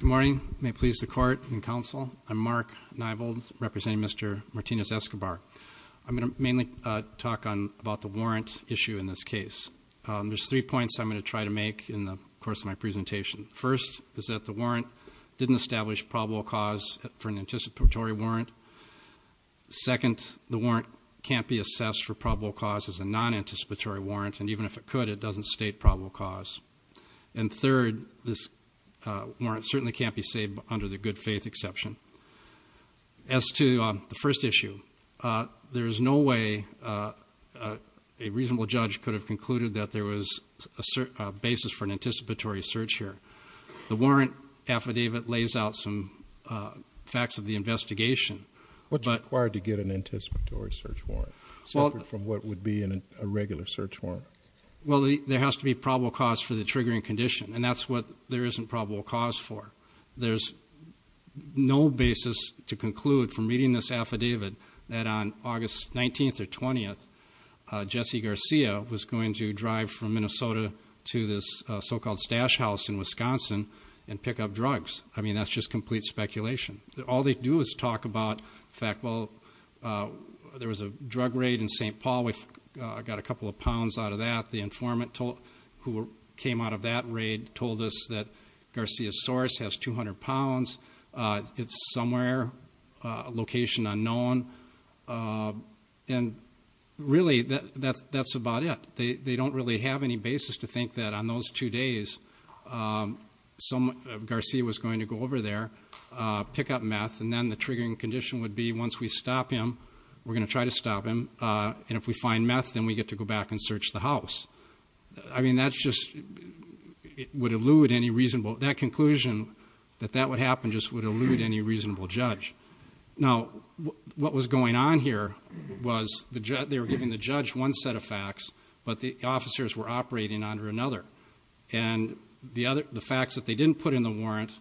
Good morning. May it please the court and counsel, I'm Mark Neibold representing Mr. Martinez Escobar. I'm going to mainly talk about the warrant issue in this case. There's three points I'm going to try to make in the course of my presentation. First, is that the warrant didn't establish probable cause for an anticipatory warrant. Second, the warrant can't be assessed for probable cause as a non-anticipatory warrant, and even if it could, it doesn't state probable cause. And third, this warrant certainly can't be saved under the good faith exception. As to the first issue, there is no way a reasonable judge could have concluded that there was a basis for an anticipatory search here. The warrant affidavit lays out some facts of the investigation. What's required to get an anticipatory search warrant, separate from what would be in a regular search warrant? Well, there has to be probable cause for the triggering condition, and that's what there isn't probable cause for. There's no basis to conclude from reading this affidavit that on August 19th or 20th, Jesse Garcia was going to drive from Minnesota to this so-called stash house in Wisconsin and pick up drugs. I mean, that's just complete speculation. All they do is talk about, in fact, well, there was a drug raid in St. Paul. We got a couple of pounds out of that. The informant who came out of that raid told us that Garcia's source has 200 pounds. It's somewhere, a location unknown. And really, that's about it. They don't really have any basis to think that on those two days, Garcia was going to go over there, pick up meth, and then the triggering condition would be once we stop him, we're going to try to stop him. And if we find meth, then we get to go back and search the house. I mean, that's just, it would elude any reasonable, that conclusion that that would happen just would elude any reasonable judge. Now, what was going on here was they were giving the judge one set of facts, but the officers were not. And the facts that they didn't put in the warrant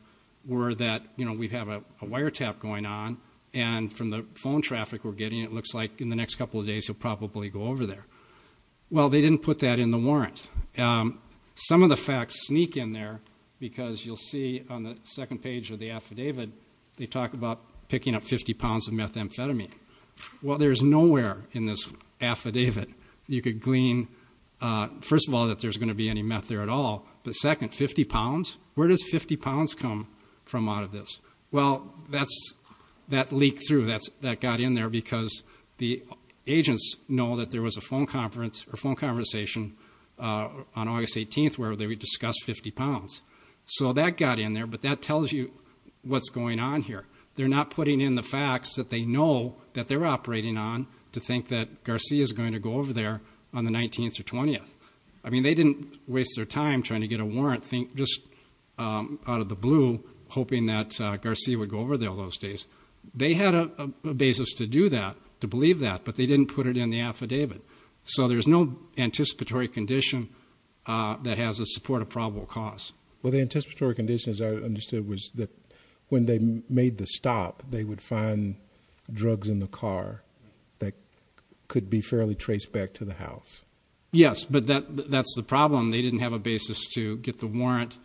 were that we have a wiretap going on, and from the phone traffic we're getting, it looks like in the next couple of days he'll probably go over there. Well, they didn't put that in the warrant. Some of the facts sneak in there because you'll see on the second page of the affidavit, they talk about picking up 50 pounds of methamphetamine. Well, there's nowhere in this affidavit you could glean, first of all, that there's going to be any meth there at all, but second, 50 pounds? Where does 50 pounds come from out of this? Well, that leaked through. That got in there because the agents know that there was a phone conversation on August 18th where they would discuss 50 pounds. So that got in there, but that tells you what's going on here. They're not putting in the facts that they know that they're operating on to think that Garcia's going to go over there on the 19th or 20th. I mean, they didn't waste their time trying to get a warrant just out of the blue, hoping that Garcia would go over there those days. They had a basis to do that, to believe that, but they didn't put it in the affidavit. So there's no anticipatory condition that has the support of probable cause. Well, the anticipatory condition, as I understood, was that when they made the stop, they would find drugs in the car that could be fairly traced back to the house. Yes, but that's the problem. They didn't have a basis to get the warrant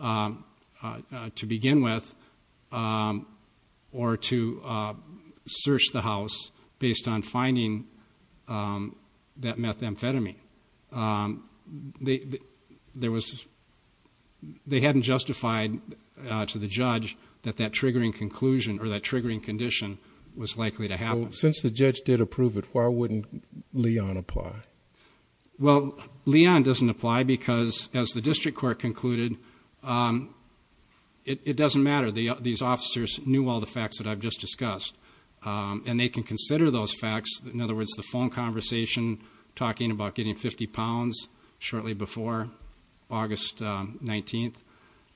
to begin with or to search the house based on finding that methamphetamine. They hadn't justified to the judge that that triggering condition was likely to happen. Since the judge did approve it, why wouldn't Leon apply? Well, Leon doesn't apply because, as the district court concluded, it doesn't matter. These officers knew all the facts that I've just discussed, and they can consider those facts. In other words, the phone conversation, talking about getting 50 pounds shortly before August 19th,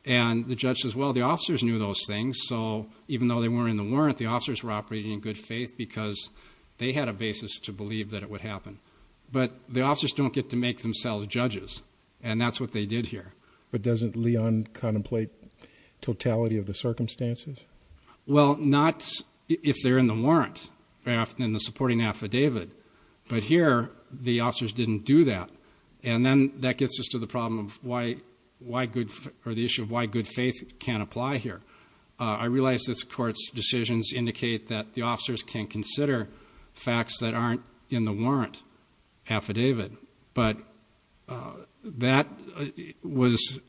and the judge says, well, the officers knew those things, so even though they weren't in the warrant, the officers were operating in good faith because they had a basis to believe that it would happen. But the officers don't get to make themselves judges, and that's what they did here. But doesn't Leon contemplate totality of the circumstances? Well, not if they're in the warrant in the supporting affidavit, but here the officers didn't do that. And then that gets us to the problem of why good, or the issue of why good faith can't apply here. I realize this court's decisions indicate that the officers can consider facts that aren't in the warrant affidavit, but that was,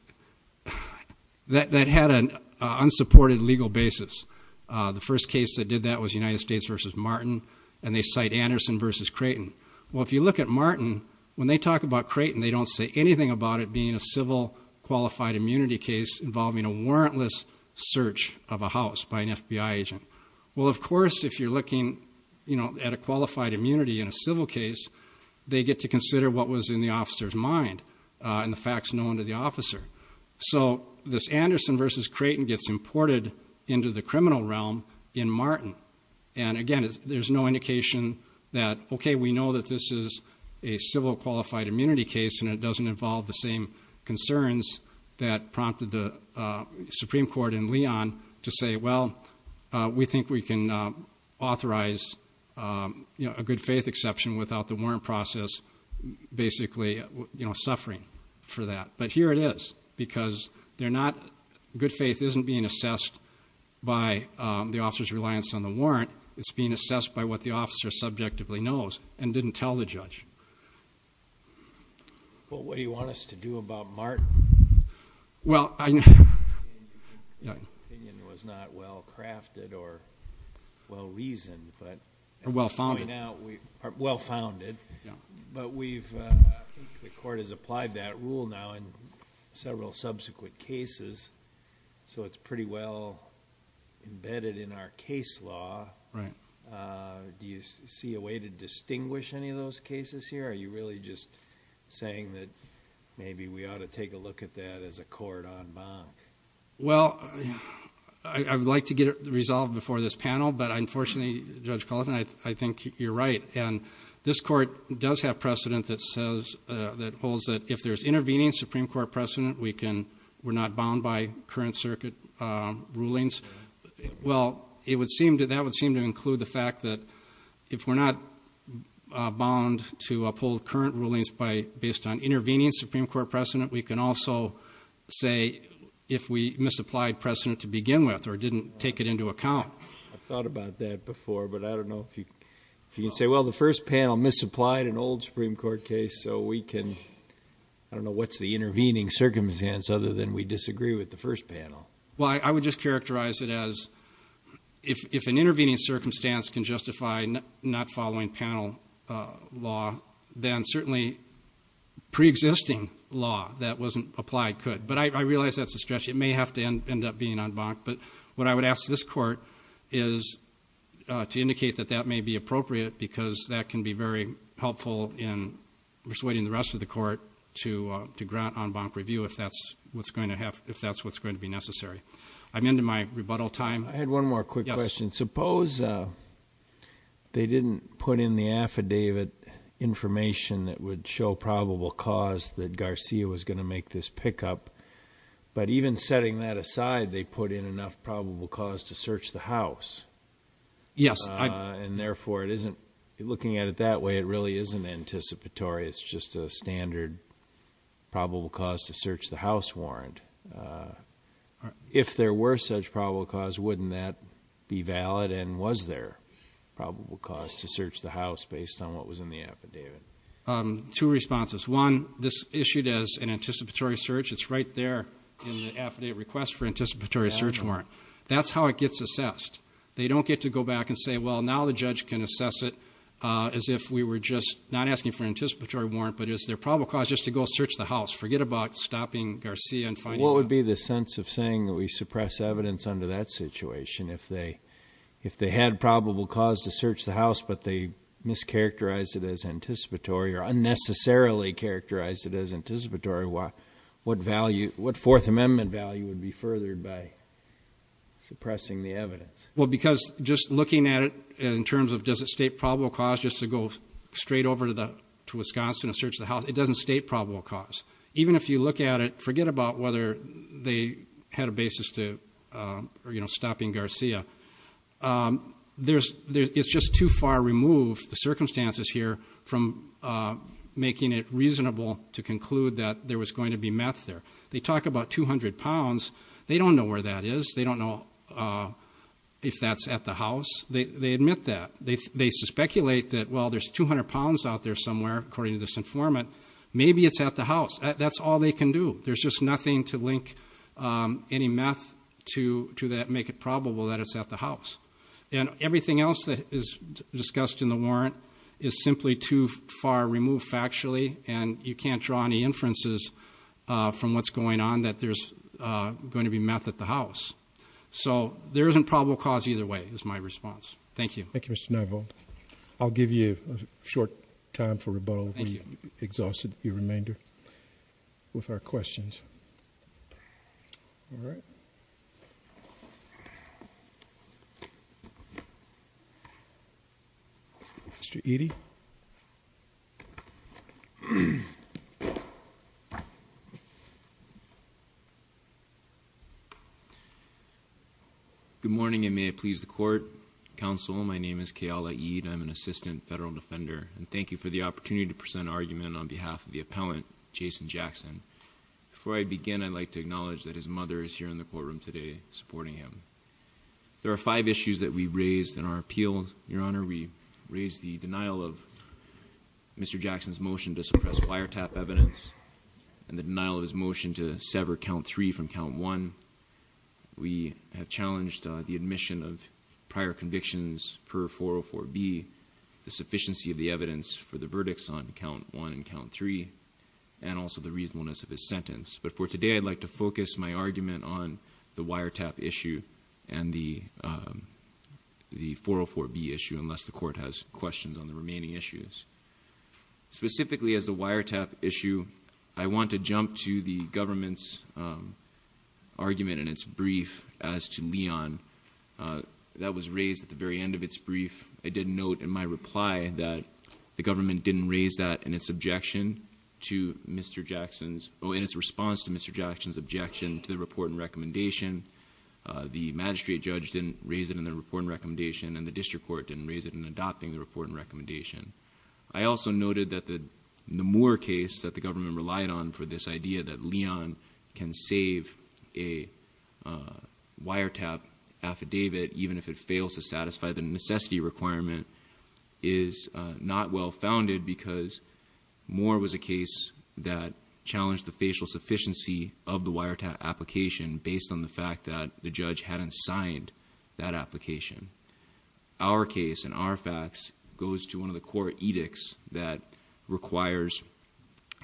that had an unsupported legal basis. The first case that did that was United States v. Martin, and they cite Anderson v. Creighton. Well, if you look at Martin, when they talk about Creighton, they don't say anything about it being a civil qualified immunity case involving a warrantless search of a house by an FBI agent. Well, of course, if you're looking at a qualified immunity in a civil case, they get to consider what was in the officer's mind and the facts known to the officer. So this Anderson v. Creighton gets imported into the criminal realm in Martin. And again, there's no indication that, okay, we know that this is a civil qualified immunity case and it doesn't involve the same concerns that prompted the Supreme Court in Leon to say, well, we think we can authorize a good faith exception without the warrant process basically suffering for that. But here it is, because they're not, good faith isn't being assessed by the officer's reliance on the warrant. It's being assessed by what the officer subjectively knows and didn't tell the judge. Well, what do you want us to do about Martin? Well, I know... The opinion was not well-crafted or well-reasoned, but... Or well-founded. Well-founded. Yeah. But we've, I think the court has applied that rule now in several subsequent cases, so it's pretty well embedded in our case law. Do you see a way to distinguish any of those cases here? Are you really just saying that maybe we ought to take a look at that as a court en banc? Well, I would like to get it resolved before this panel, but unfortunately, Judge Culleton, I think you're right. And this court does have precedent that says, that holds that if there's intervening Supreme Court precedent, we can, we're not bound by current circuit rulings. Well, that would seem to include the fact that if we're not bound to uphold current rulings based on intervening Supreme Court precedent, we can also say if we misapplied precedent to begin with or didn't take it into account. I thought about that before, but I don't know if you can say, well, the first panel misapplied an old Supreme Court case, so we can, I don't know what's the intervening circumstance other than we disagree with the first panel. Well, I would just characterize it as if an intervening circumstance can justify not following panel law, then certainly preexisting law that wasn't applied could. But I realize that's a stretch. It may have to end up being en banc. But what I would ask this court is to be helpful in persuading the rest of the court to grant en banc review if that's what's going to have, if that's what's going to be necessary. I'm into my rebuttal time. I had one more quick question. Suppose they didn't put in the affidavit information that would show probable cause that Garcia was going to make this pickup. But even setting that aside, they put in enough probable cause to search the house. Yes. And therefore it isn't, looking at it that way, it really isn't anticipatory. It's just a standard probable cause to search the house warrant. If there were such probable cause, wouldn't that be valid? And was there probable cause to search the house based on what was in the affidavit? Two responses. One, this issued as an anticipatory search. It's right there in the affidavit request for anticipatory search warrant. That's how it gets assessed. They don't get to go back and say, well, now the judge can assess it as if we were just not asking for an anticipatory warrant, but as their probable cause just to go search the house. Forget about stopping Garcia and finding out. What would be the sense of saying that we suppress evidence under that situation? If they had probable cause to search the house, but they mischaracterized it as anticipatory or unnecessarily characterized it as anticipatory, what fourth amendment value would be furthered by suppressing the evidence? Because just looking at it in terms of does it state probable cause just to go straight over to Wisconsin and search the house, it doesn't state probable cause. Even if you look at it, forget about whether they had a basis to stopping Garcia. It's just too far removed, the circumstances here, from making it reasonable to conclude that there was going to be meth there. They talk about 200 pounds. They don't know where that is. They don't know if that's at the house. They admit that. They speculate that, well, there's 200 pounds out there somewhere, according to this informant. Maybe it's at the house. That's all they can do. There's just nothing to link any meth to that make it probable that it's at the house. And everything else that is discussed in the warrant is simply too far removed factually, and you can't draw any inferences from what's going on that there's going to be meth at the house. So there isn't probable cause either way, is my response. Thank you. Thank you, Mr. Nivold. I'll give you a short time for rebuttal. We've exhausted your remainder with our questions. All right. Mr. Eadie? Good morning, and may it please the Court. Counsel, my name is Keala Eadie. I'm an Assistant Federal Defender, and thank you for the opportunity to present an argument on behalf of the appellant, Jason Jackson. Before I begin, I'd like to acknowledge that his mother is here in the courtroom today supporting him. There are five issues that we raised in our appeal. Your Honor, we raised the denial of Mr. Jackson's motion to suppress wiretap evidence and the count one. We have challenged the admission of prior convictions per 404B, the sufficiency of the evidence for the verdicts on count one and count three, and also the reasonableness of his sentence. But for today, I'd like to focus my argument on the wiretap issue and the 404B issue, unless the Court has questions on the remaining issues. Specifically, as the wiretap issue, I want to jump to the government's argument in its brief as to Leon. That was raised at the very end of its brief. I did note in my reply that the government didn't raise that in its objection to Mr. Jackson's... oh, in its response to Mr. Jackson's objection to the report and recommendation. The magistrate judge didn't raise it in the report and recommendation, and the district court didn't raise it in the report. I also noted that the Moore case that the government relied on for this idea that Leon can save a wiretap affidavit even if it fails to satisfy the necessity requirement is not well founded because Moore was a case that challenged the facial sufficiency of the wiretap application based on the fact that the judge hadn't signed that application. Our case, in our facts, goes to one of the court edicts that requires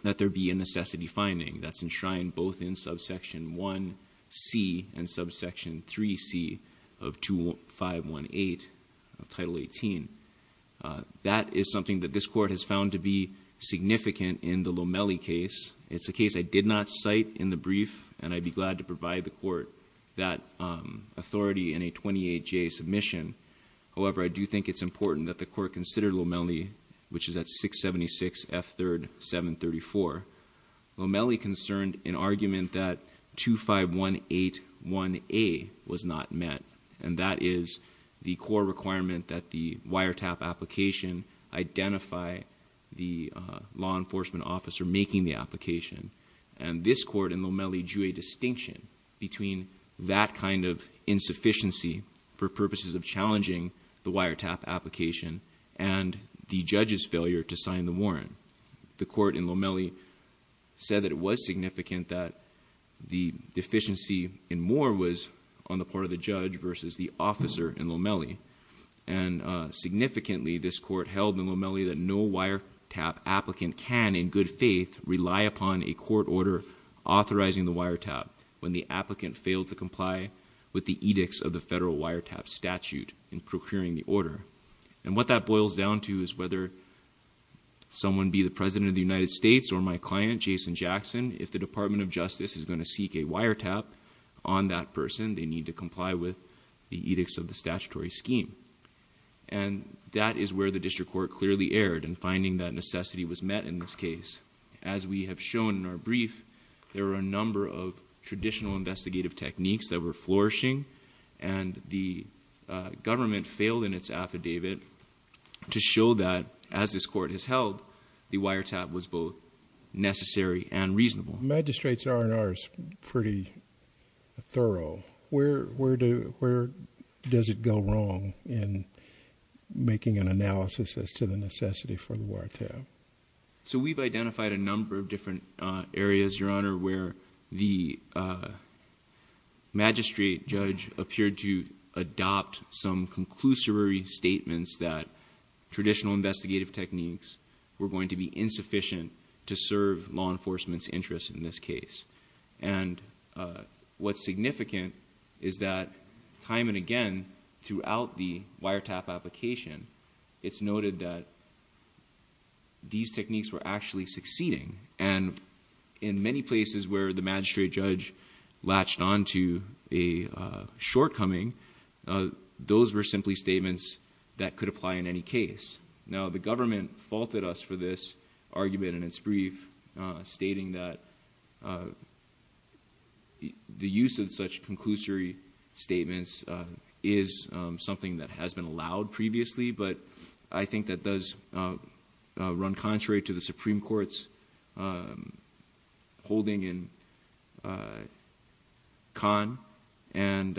that there be a necessity finding that's enshrined both in subsection 1C and subsection 3C of 2518 of Title 18. That is something that this Court has found to be significant in the Lomelli case. It's a case I did not cite in the brief, and I'd be glad to provide the Court that information. However, I do think it's important that the Court consider Lomelli, which is at 676 F. 3rd. 734. Lomelli concerned an argument that 2518. 1A was not met, and that is the core requirement that the wiretap application identify the law enforcement officer making the application, and this Court in Lomelli drew a distinction between that kind of insufficiency for purposes of challenging the wiretap application and the judge's failure to sign the warrant. The Court in Lomelli said that it was significant that the deficiency in Moore was on the part of the judge versus the officer in Lomelli, and significantly, this Court held in Lomelli that no wiretap applicant can, in good faith, rely upon a court order authorizing the wiretap when the applicant failed to comply with the edicts of the federal wiretap statute in procuring the order, and what that boils down to is whether someone be the President of the United States or my client, Jason Jackson, if the Department of Justice is going to seek a wiretap on that person, they need to comply with the edicts of the statutory scheme, and that is where the District Court clearly erred in finding that necessity was met in this case. As we have shown in our brief, there were a number of traditional investigative techniques that were flourishing, and the government failed in its affidavit to show that, as this Court has held, the wiretap was both necessary and reasonable. The magistrate's R&R is pretty thorough. Where does it go wrong in making an analysis as to the necessity for the wiretap? So we've identified a number of different areas, Your Honor, where the magistrate judge appeared to adopt some conclusory statements that traditional investigative techniques were going to be insufficient to serve law enforcement's interest in this case. And what's significant is that time and again throughout the wiretap application, it's noted that these techniques were actually succeeding. And in many places where the magistrate judge latched on to a shortcoming, those were simply statements that could apply in any case. Now, the government faulted us for this argument in its brief, stating that the use of such conclusory statements is something that has been allowed previously, but I think that does run contrary to the Supreme Court's holding in Khan and,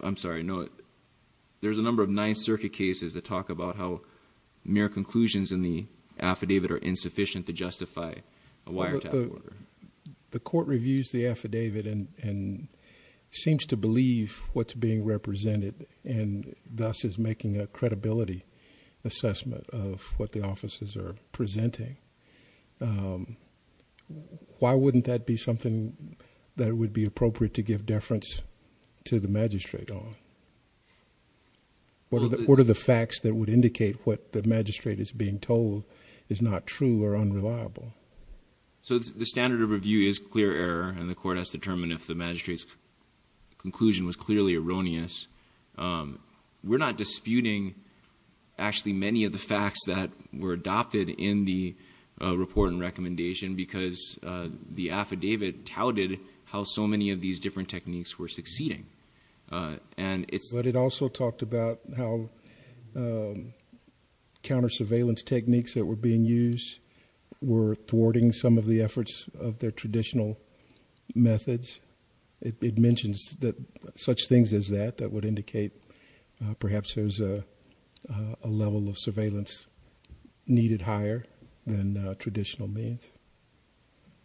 I'm sorry, there's a number of Ninth Circuit cases that talk about how mere conclusions in the affidavit are insufficient to justify a wiretap order. The court reviews the affidavit and seems to believe what's being represented, and thus is making a credibility assessment of what the offices are presenting. Why wouldn't that be something that would be appropriate to give deference to the magistrate on? What are the facts that would indicate what the magistrate is being told is not true or unreliable? So the standard of review is clear error, and the court has to determine if the magistrate's conclusion was clearly erroneous. We're not disputing actually many of the facts that were adopted in the report and recommendation because the affidavit touted how so many of these different techniques were succeeding. And it's- But it also talked about how counter surveillance techniques that were being used were thwarting some of the efforts of their traditional methods. It mentions that such things as that, that would indicate perhaps there's a level of surveillance needed higher than traditional means.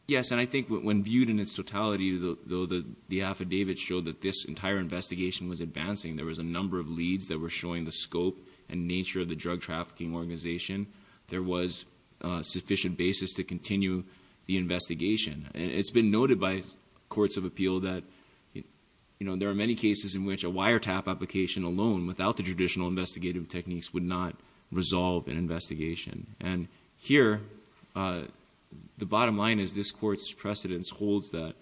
Yes, and I think when viewed in its totality, though the affidavit showed that this entire investigation was advancing, there was a number of leads that were showing the scope and nature of the drug trafficking organization. There was sufficient basis to continue the investigation. And it's been noted by courts of appeal that there are many cases in which a wiretap application alone without the traditional investigative techniques would not resolve an investigation. And here, the bottom line is this court's precedence holds that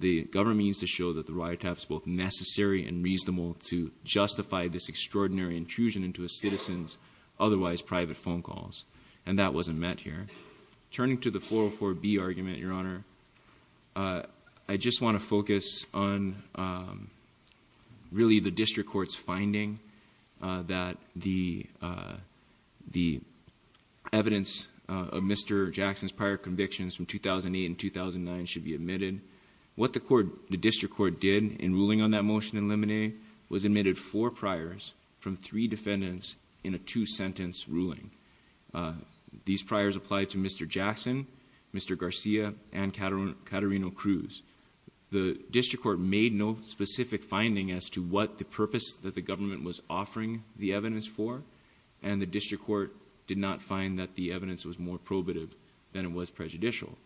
the government needs to show that the wiretap's both necessary and reasonable to justify this extraordinary intrusion into a citizen's otherwise private phone calls. And that wasn't met here. Turning to the 404B argument, your honor, I just want to focus on really the district court's finding that the evidence of Mr. Jackson's prior convictions from 2008 and 2009 should be admitted. What the district court did in ruling on that motion in limine was admitted four priors from three defendants in a two-sentence ruling. These priors applied to Mr. Jackson, Mr. Garcia, and Caterino-Cruz. The district court made no specific finding as to what the purpose that the government was offering the evidence for. And the district court did not find that the evidence was more probative than it was prejudicial.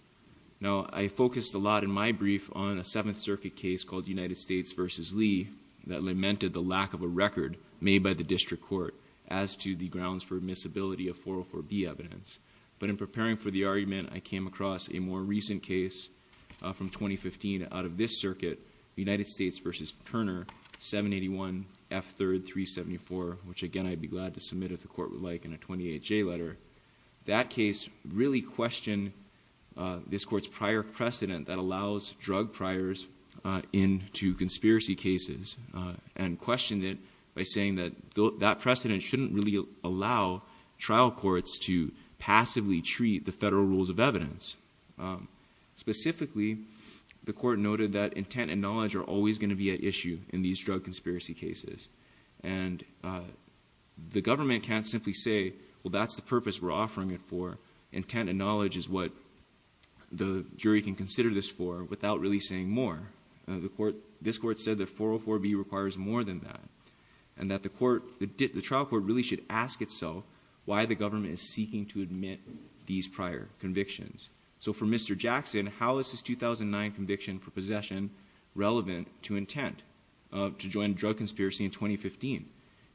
Now, I focused a lot in my brief on a Seventh Circuit case called United States versus Lee that lamented the lack of a record made by the district court as to the grounds for admissibility of 404B evidence. But in preparing for the argument, I came across a more recent case from 2015 out of this circuit, United States versus Turner, 781F3374, which again, I'd be glad to submit if the court would like in a 28J letter. That case really questioned this court's prior precedent that allows drug priors into conspiracy cases and questioned it by saying that that precedent shouldn't really allow trial courts to passively treat the federal rules of evidence. Specifically, the court noted that intent and knowledge are always going to be an issue in these drug conspiracy cases. And the government can't simply say, well, that's the purpose we're offering it for. Intent and knowledge is what the jury can consider this for without really saying more. This court said that 404B requires more than that. And that the trial court really should ask itself why the government is seeking to admit these prior convictions. So for Mr. Jackson, how is his 2009 conviction for possession relevant to intent to join drug conspiracy in 2015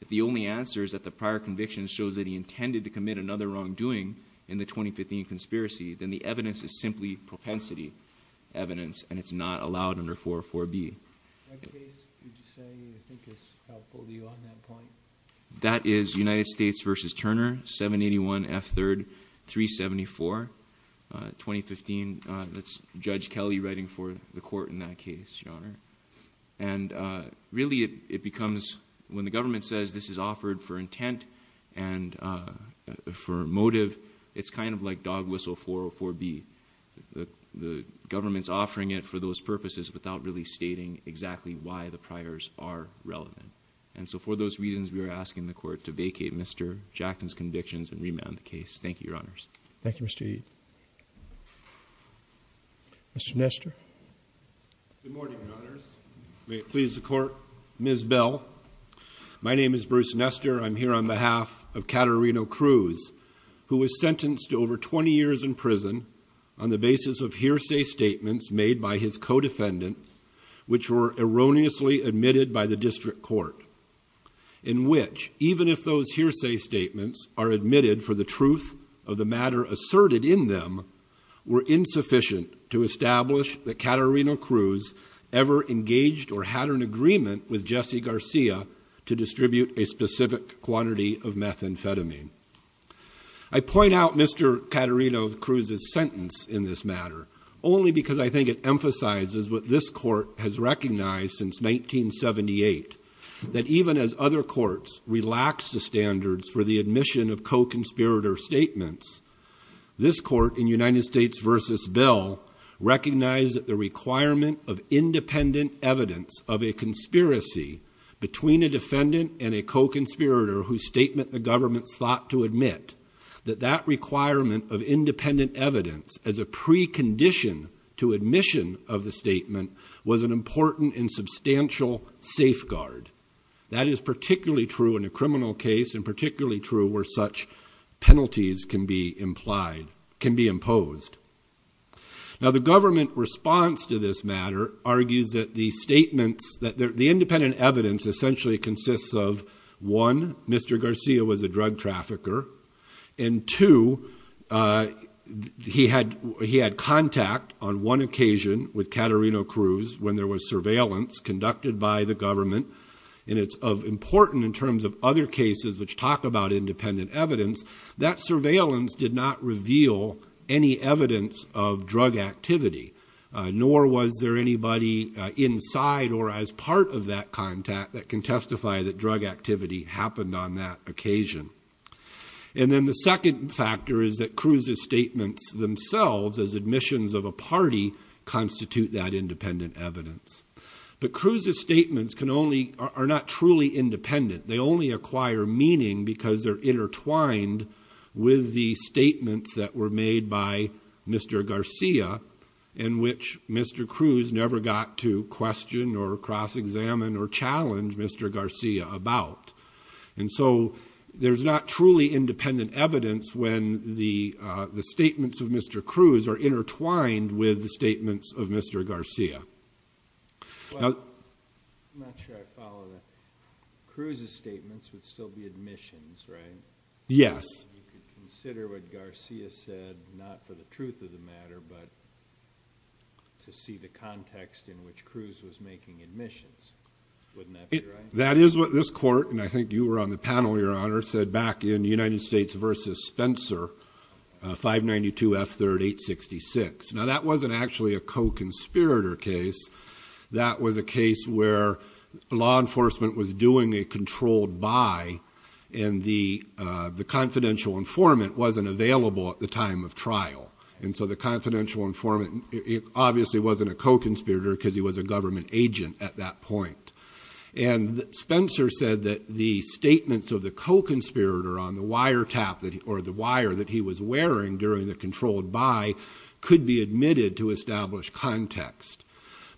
if the only answer is that the prior conviction shows that he intended to commit another wrongdoing in the 2015 conspiracy, then the evidence is simply propensity evidence, and it's not allowed under 404B. What case would you say you think is helpful to you on that point? That is United States versus Turner, 781F3374, 2015. That's Judge Kelly writing for the court in that case, Your Honor. And really it becomes, when the government says this is offered for intent and for motive, it's kind of like dog whistle 404B. The government's offering it for those purposes without really stating exactly why the priors are relevant. And so for those reasons, we are asking the court to vacate Mr. Jackson's convictions and remand the case. Thank you, Your Honors. Thank you, Mr. Eid. Mr. Nestor. Good morning, Your Honors. May it please the court. Ms. Bell. My name is Bruce Nestor. I'm here on behalf of Caterino Cruz, who was sentenced to over 20 years in prison on the basis of hearsay statements made by his co-defendant, which were erroneously admitted by the district court. In which, even if those hearsay statements are admitted for the truth of the matter asserted in them, were insufficient to establish that Caterino Cruz ever engaged or had an agreement with Jesse Garcia to distribute a specific quantity of methamphetamine. I point out Mr. Caterino Cruz's sentence in this matter, only because I think it emphasizes what this court has recognized since 1978. That even as other courts relaxed the standards for the admission of co-conspirator statements, this court in United States versus Bell recognized that the requirement of independent evidence of a conspiracy between a defendant and a co-conspirator whose statement the government sought to admit. That that requirement of independent evidence as a precondition to admission of the statement was an important and substantial safeguard. That is particularly true in a criminal case and particularly true where such penalties can be implied, can be imposed. Now the government response to this matter argues that the statements, that the independent evidence essentially consists of, one, Mr. Garcia was a drug trafficker. And two, he had contact on one occasion with Caterino Cruz when there was surveillance conducted by the government. And it's important in terms of other cases which talk about independent evidence, that surveillance did not reveal any evidence of drug activity. Nor was there anybody inside or as part of that contact that can testify that drug activity happened on that occasion. And then the second factor is that Cruz's statements themselves as admissions of a party constitute that independent evidence. But Cruz's statements can only, are not truly independent. They only acquire meaning because they're intertwined with the statements that were made by Mr. Garcia in which Mr. Cruz never got to question or cross-examine or challenge Mr. Garcia about. And so, there's not truly independent evidence when the statements of Mr. Cruz are intertwined with the statements of Mr. Garcia. Now, I'm not sure I follow that. Cruz's statements would still be admissions, right? Yes. You could consider what Garcia said, not for the truth of the matter, but to see the context in which Cruz was making admissions. Wouldn't that be right? That is what this court, and I think you were on the panel, Your Honor, said back in United States versus Spencer, 592 F3rd 866. Now, that wasn't actually a co-conspirator case. That was a case where law enforcement was doing a controlled buy, and the confidential informant wasn't available at the time of trial. And so, the confidential informant obviously wasn't a co-conspirator because he was a government agent at that point. And Spencer said that the statements of the co-conspirator on the wire tap or the wire that he was wearing during the controlled buy could be admitted to establish context.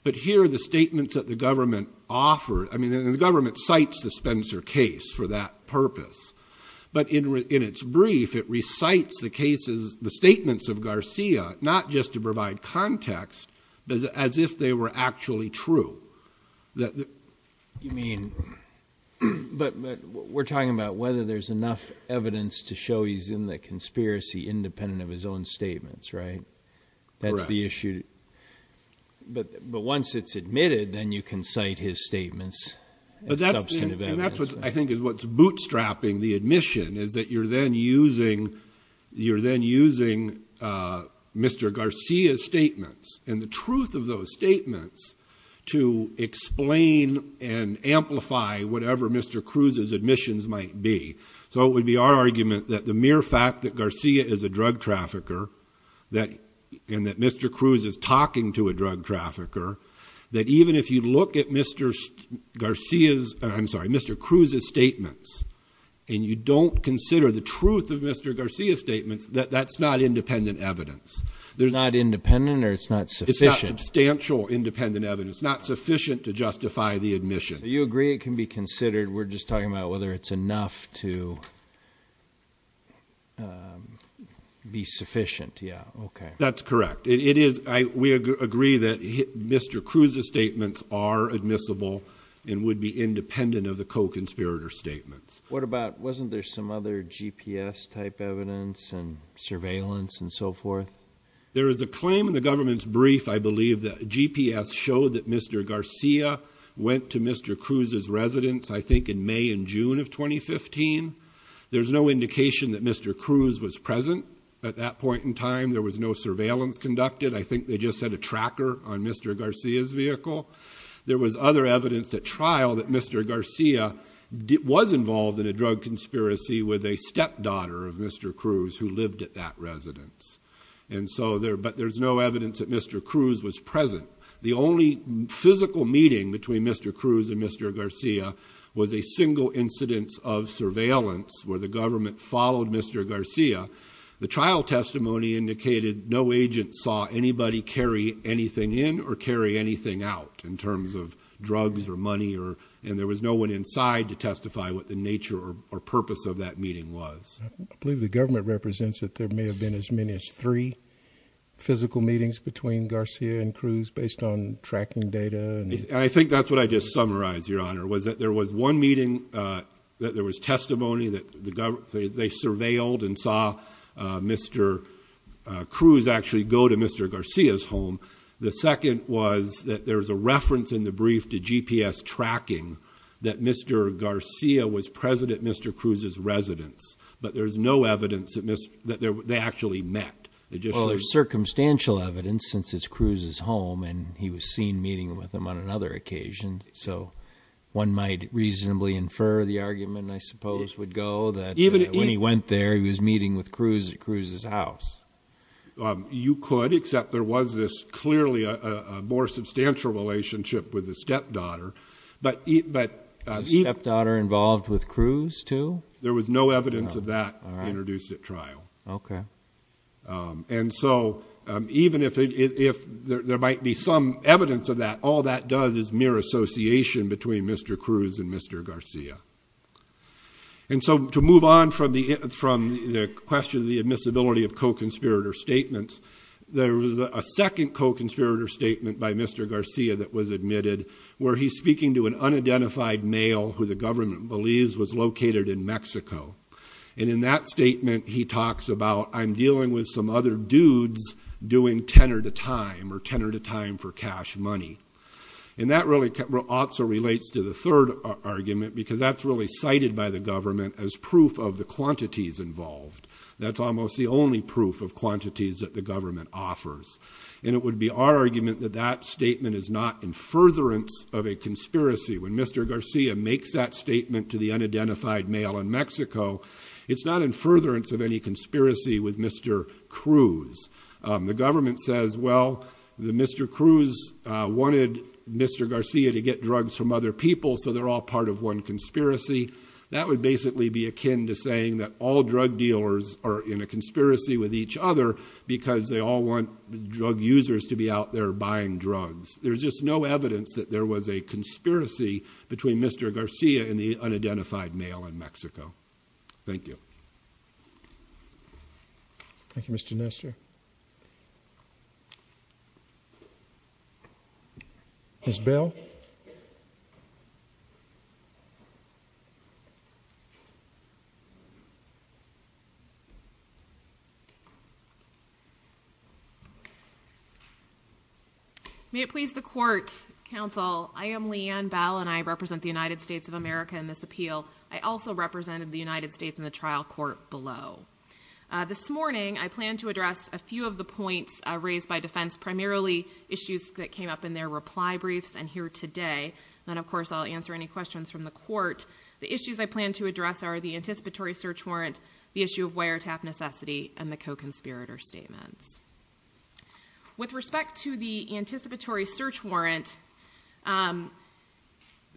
But here, the statements that the government offered, I mean, the government cites the Spencer case for that purpose. But in its brief, it recites the statements of Garcia, not just to provide context, but as if they were actually true. You mean, but we're talking about whether there's enough evidence to show he's in the conspiracy independent of his own statements, right? That's the issue. But once it's admitted, then you can cite his statements. Substantive evidence. And that's what I think is what's bootstrapping the admission is that you're then using Mr. Garcia's statements and the truth of those statements to explain and amplify whatever Mr. Cruz's admissions might be. So it would be our argument that the mere fact that Garcia is a drug trafficker and that Mr. Cruz is talking to a drug trafficker, that even if you look at Mr. Garcia's, I'm sorry, Mr. Cruz's statements and you don't consider the truth of Mr. Cruz's statements as independent evidence. There's- Not independent or it's not sufficient? It's not substantial independent evidence, not sufficient to justify the admission. Do you agree it can be considered, we're just talking about whether it's enough to be sufficient, yeah, okay. That's correct. It is, we agree that Mr. Cruz's statements are admissible and would be independent of the co-conspirator statements. What about, wasn't there some other GPS type evidence and surveillance and so forth? There is a claim in the government's brief, I believe, that GPS showed that Mr. Garcia went to Mr. Cruz's residence, I think in May and June of 2015. There's no indication that Mr. Cruz was present at that point in time. There was no surveillance conducted. I think they just had a tracker on Mr. Garcia's vehicle. There was other evidence at trial that Mr. Garcia was involved in a drug conspiracy with a stepdaughter of Mr. Cruz who lived at that residence. And so there, but there's no evidence that Mr. Cruz was present. The only physical meeting between Mr. Cruz and Mr. Garcia was a single incidence of surveillance where the government followed Mr. Garcia. The trial testimony indicated no agent saw anybody carry anything in or carry anything out in terms of drugs or money or, and there was no one inside to testify what the nature or purpose of that meeting was. I believe the government represents that there may have been as many as three physical meetings between Garcia and Cruz based on tracking data. I think that's what I just summarized, Your Honor, was that there was one meeting that there was testimony that they surveilled and saw Mr. Cruz actually go to Mr. Garcia's home. The second was that there was a reference in the brief to GPS tracking that Mr. Garcia was present at Mr. Cruz's residence. But there's no evidence that they actually met. They just- Well, there's circumstantial evidence since it's Cruz's home and he was seen meeting with him on another occasion. So one might reasonably infer the argument, I suppose, would go that when he went there, he was meeting with Cruz at Cruz's house. You could, except there was this clearly a more substantial relationship with the stepdaughter, but- The stepdaughter involved with Cruz, too? There was no evidence of that introduced at trial. Okay. And so even if there might be some evidence of that, all that does is mere association between Mr. Cruz and Mr. Garcia. And so to move on from the question of the admissibility of co-conspirator statements, there was a second co-conspirator statement by Mr. Garcia that was admitted where he's speaking to an unidentified male who the government believes was located in Mexico. And in that statement, he talks about, I'm dealing with some other dudes doing tenor to time, or tenor to time for cash money. And that really also relates to the third argument, because that's really cited by the government as proof of the quantities involved. That's almost the only proof of quantities that the government offers. And it would be our argument that that statement is not in furtherance of a conspiracy. When Mr. Garcia makes that statement to the unidentified male in Mexico, it's not in furtherance of any conspiracy with Mr. Cruz. The government says, well, Mr. Cruz wanted Mr. Garcia to get drugs from other people, so they're all part of one conspiracy. That would basically be akin to saying that all drug dealers are in a conspiracy with each other because they all want drug users to be out there buying drugs. There's just no evidence that there was a conspiracy between Mr. Garcia and the unidentified male in Mexico. Thank you. Thank you, Mr. Nestor. Ms. Bell? May it please the court, counsel. I am Leanne Bell, and I represent the United States of America in this appeal. I also represented the United States in the trial court below. This morning, I plan to address a few of the points raised by defense, primarily issues that came up in their reply briefs and here today. Then, of course, I'll answer any questions from the court. The issues I plan to address are the anticipatory search warrant, the issue of wiretap necessity, and the co-conspirator statements. With respect to the anticipatory search warrant,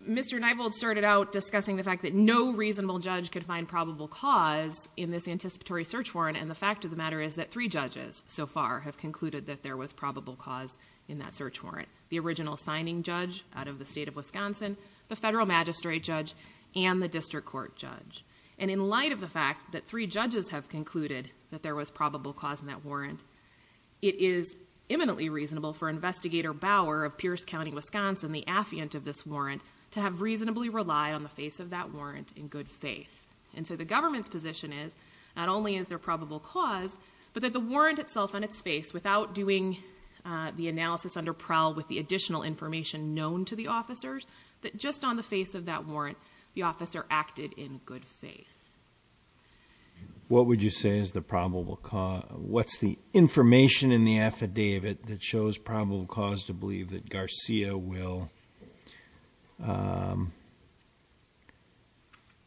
Mr. Nievold started out discussing the fact that no reasonable judge could find probable cause in this anticipatory search warrant, and the fact of the matter is that three judges so far have concluded that there was probable cause in that search warrant. The original signing judge out of the state of Wisconsin, the federal magistrate judge, and the district court judge. And in light of the fact that three judges have concluded that there was probable cause in that warrant, it is eminently reasonable for Investigator Bauer of Pierce County, Wisconsin, the affiant of this warrant, to have reasonably relied on the face of that warrant in good faith. And so the government's position is not only is there probable cause, but that the warrant itself on its face without doing the analysis under Prel with the additional information known to the officers, that just on the face of that warrant, the officer acted in good faith. What would you say is the probable cause? What's the information in the affidavit that shows probable cause to believe that Garcia will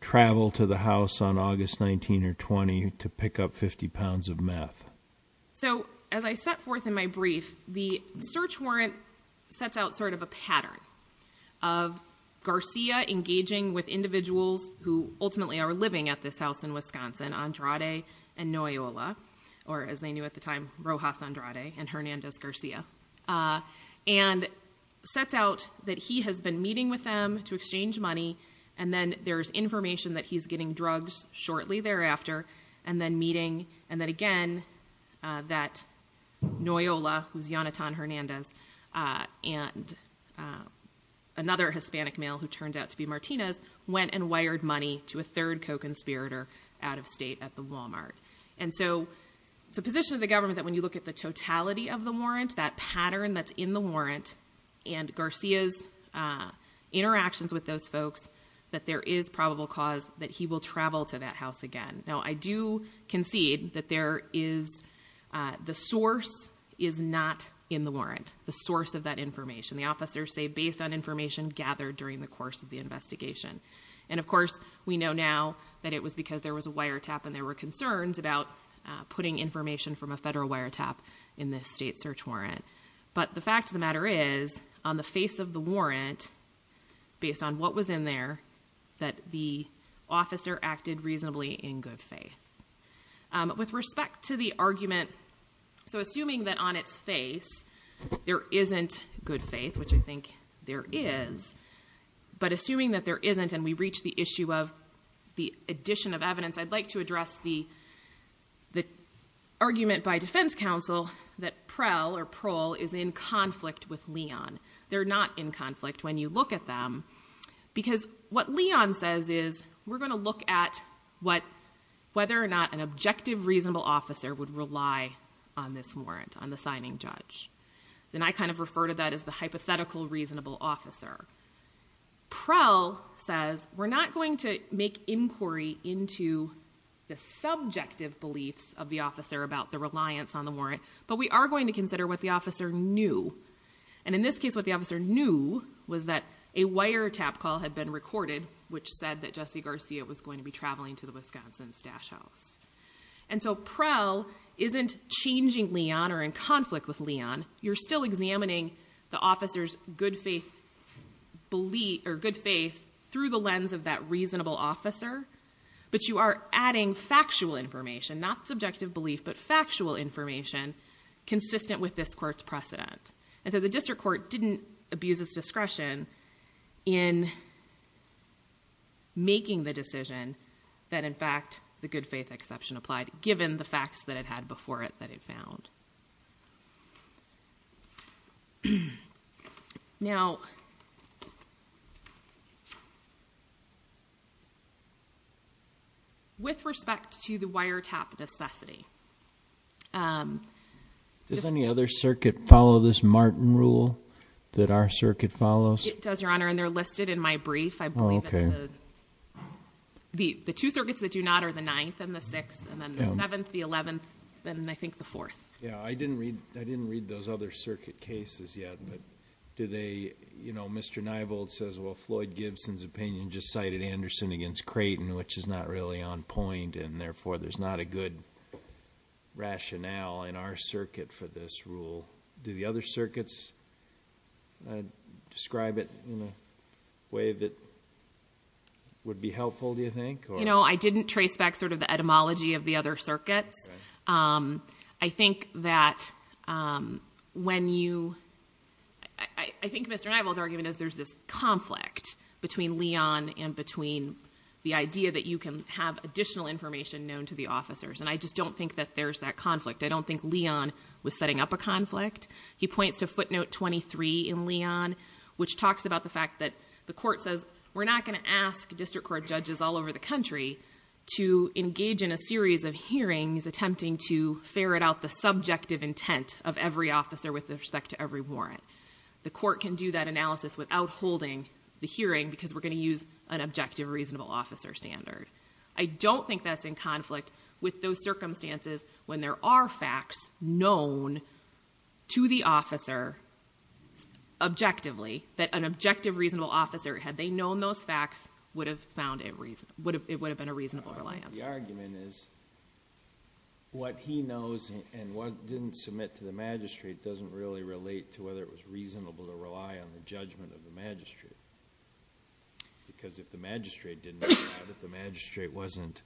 travel to the house on August 19 or 20 to pick up 50 pounds of meth? So as I set forth in my brief, the search warrant sets out sort of a pattern of Garcia engaging with individuals who ultimately are living at this house in Wisconsin, Andrade and Noyola, or as they knew at the time, Rojas Andrade and Hernandez Garcia. And sets out that he has been meeting with them to exchange money, and then there's information that he's getting drugs shortly thereafter, and then meeting, and then again, that Noyola, who's Yonatan Hernandez, and another Hispanic male who turned out to be Martinez, went and wired money to a third co-conspirator out of state at the Walmart. And so it's a position of the government that when you look at the totality of the warrant, that pattern that's in the warrant, and Garcia's interactions with those folks, that there is probable cause that he will travel to that house again. Now, I do concede that there is, the source is not in the warrant, the source of that information. The officers say based on information gathered during the course of the investigation. And of course, we know now that it was because there was a wiretap, and there were concerns about putting information from a federal wiretap in this state search warrant. But the fact of the matter is, on the face of the warrant, based on what was in there, that the officer acted reasonably in good faith. With respect to the argument, so assuming that on its face, there isn't good faith, which I think there is. But assuming that there isn't, and we reach the issue of the addition of evidence, I'd like to address the argument by defense counsel that Prel or Prohl is in conflict with Leon. They're not in conflict when you look at them. Because what Leon says is, we're going to look at whether or not an objective reasonable officer would rely on this warrant, on the signing judge. Then I kind of refer to that as the hypothetical reasonable officer. Prohl says, we're not going to make inquiry into the subjective beliefs of the officer about the reliance on the warrant, but we are going to consider what the officer knew. And in this case, what the officer knew was that a wiretap call had been recorded, which said that Jesse Garcia was going to be traveling to the Wisconsin Stash House. And so Prohl isn't changing Leon or in conflict with Leon. You're still examining the officer's good faith through the lens of that reasonable officer, but you are adding factual information, not subjective belief, but factual information consistent with this court's precedent. And so the district court didn't abuse its discretion in making the decision that, in fact, the good faith exception applied, given the facts that it had before it that it found. Now, with respect to the wiretap necessity. Does any other circuit follow this Martin rule that our circuit follows? It does, Your Honor, and they're listed in my brief. I believe the two circuits that do not are the ninth and the sixth, and then the seventh, the eleventh, and I think the fourth. Yeah, I didn't read those other circuit cases yet, but do they, you know, Mr. Nievold says, well, Floyd Gibson's opinion just cited Anderson against Creighton, which is not really on point, and therefore there's not a good rationale in our circuit for this rule. Do the other circuits describe it in a way that would be helpful, do you think? You know, I didn't trace back sort of the etymology of the other circuits. I think that when you, I think Mr. Nievold's argument is there's this conflict between Leon and between the idea that you can have additional information known to the officers, and I just don't think that there's that conflict. I don't think Leon was setting up a conflict. He points to footnote 23 in Leon, which talks about the fact that the court says we're not going to ask district court judges all over the country to engage in a series of hearings attempting to ferret out the subjective intent of every officer with respect to every warrant. The court can do that analysis without holding the hearing because we're going to use an objective reasonable officer standard. I don't think that's in conflict with those circumstances when there are facts known to the officer objectively, that an objective reasonable officer, had they known those facts, would have found it would have been a reasonable reliance. The argument is what he knows and what didn't submit to the magistrate doesn't really relate to whether it was reasonable to rely on the judgment of the magistrate. Because if the magistrate didn't know that, if the magistrate wasn't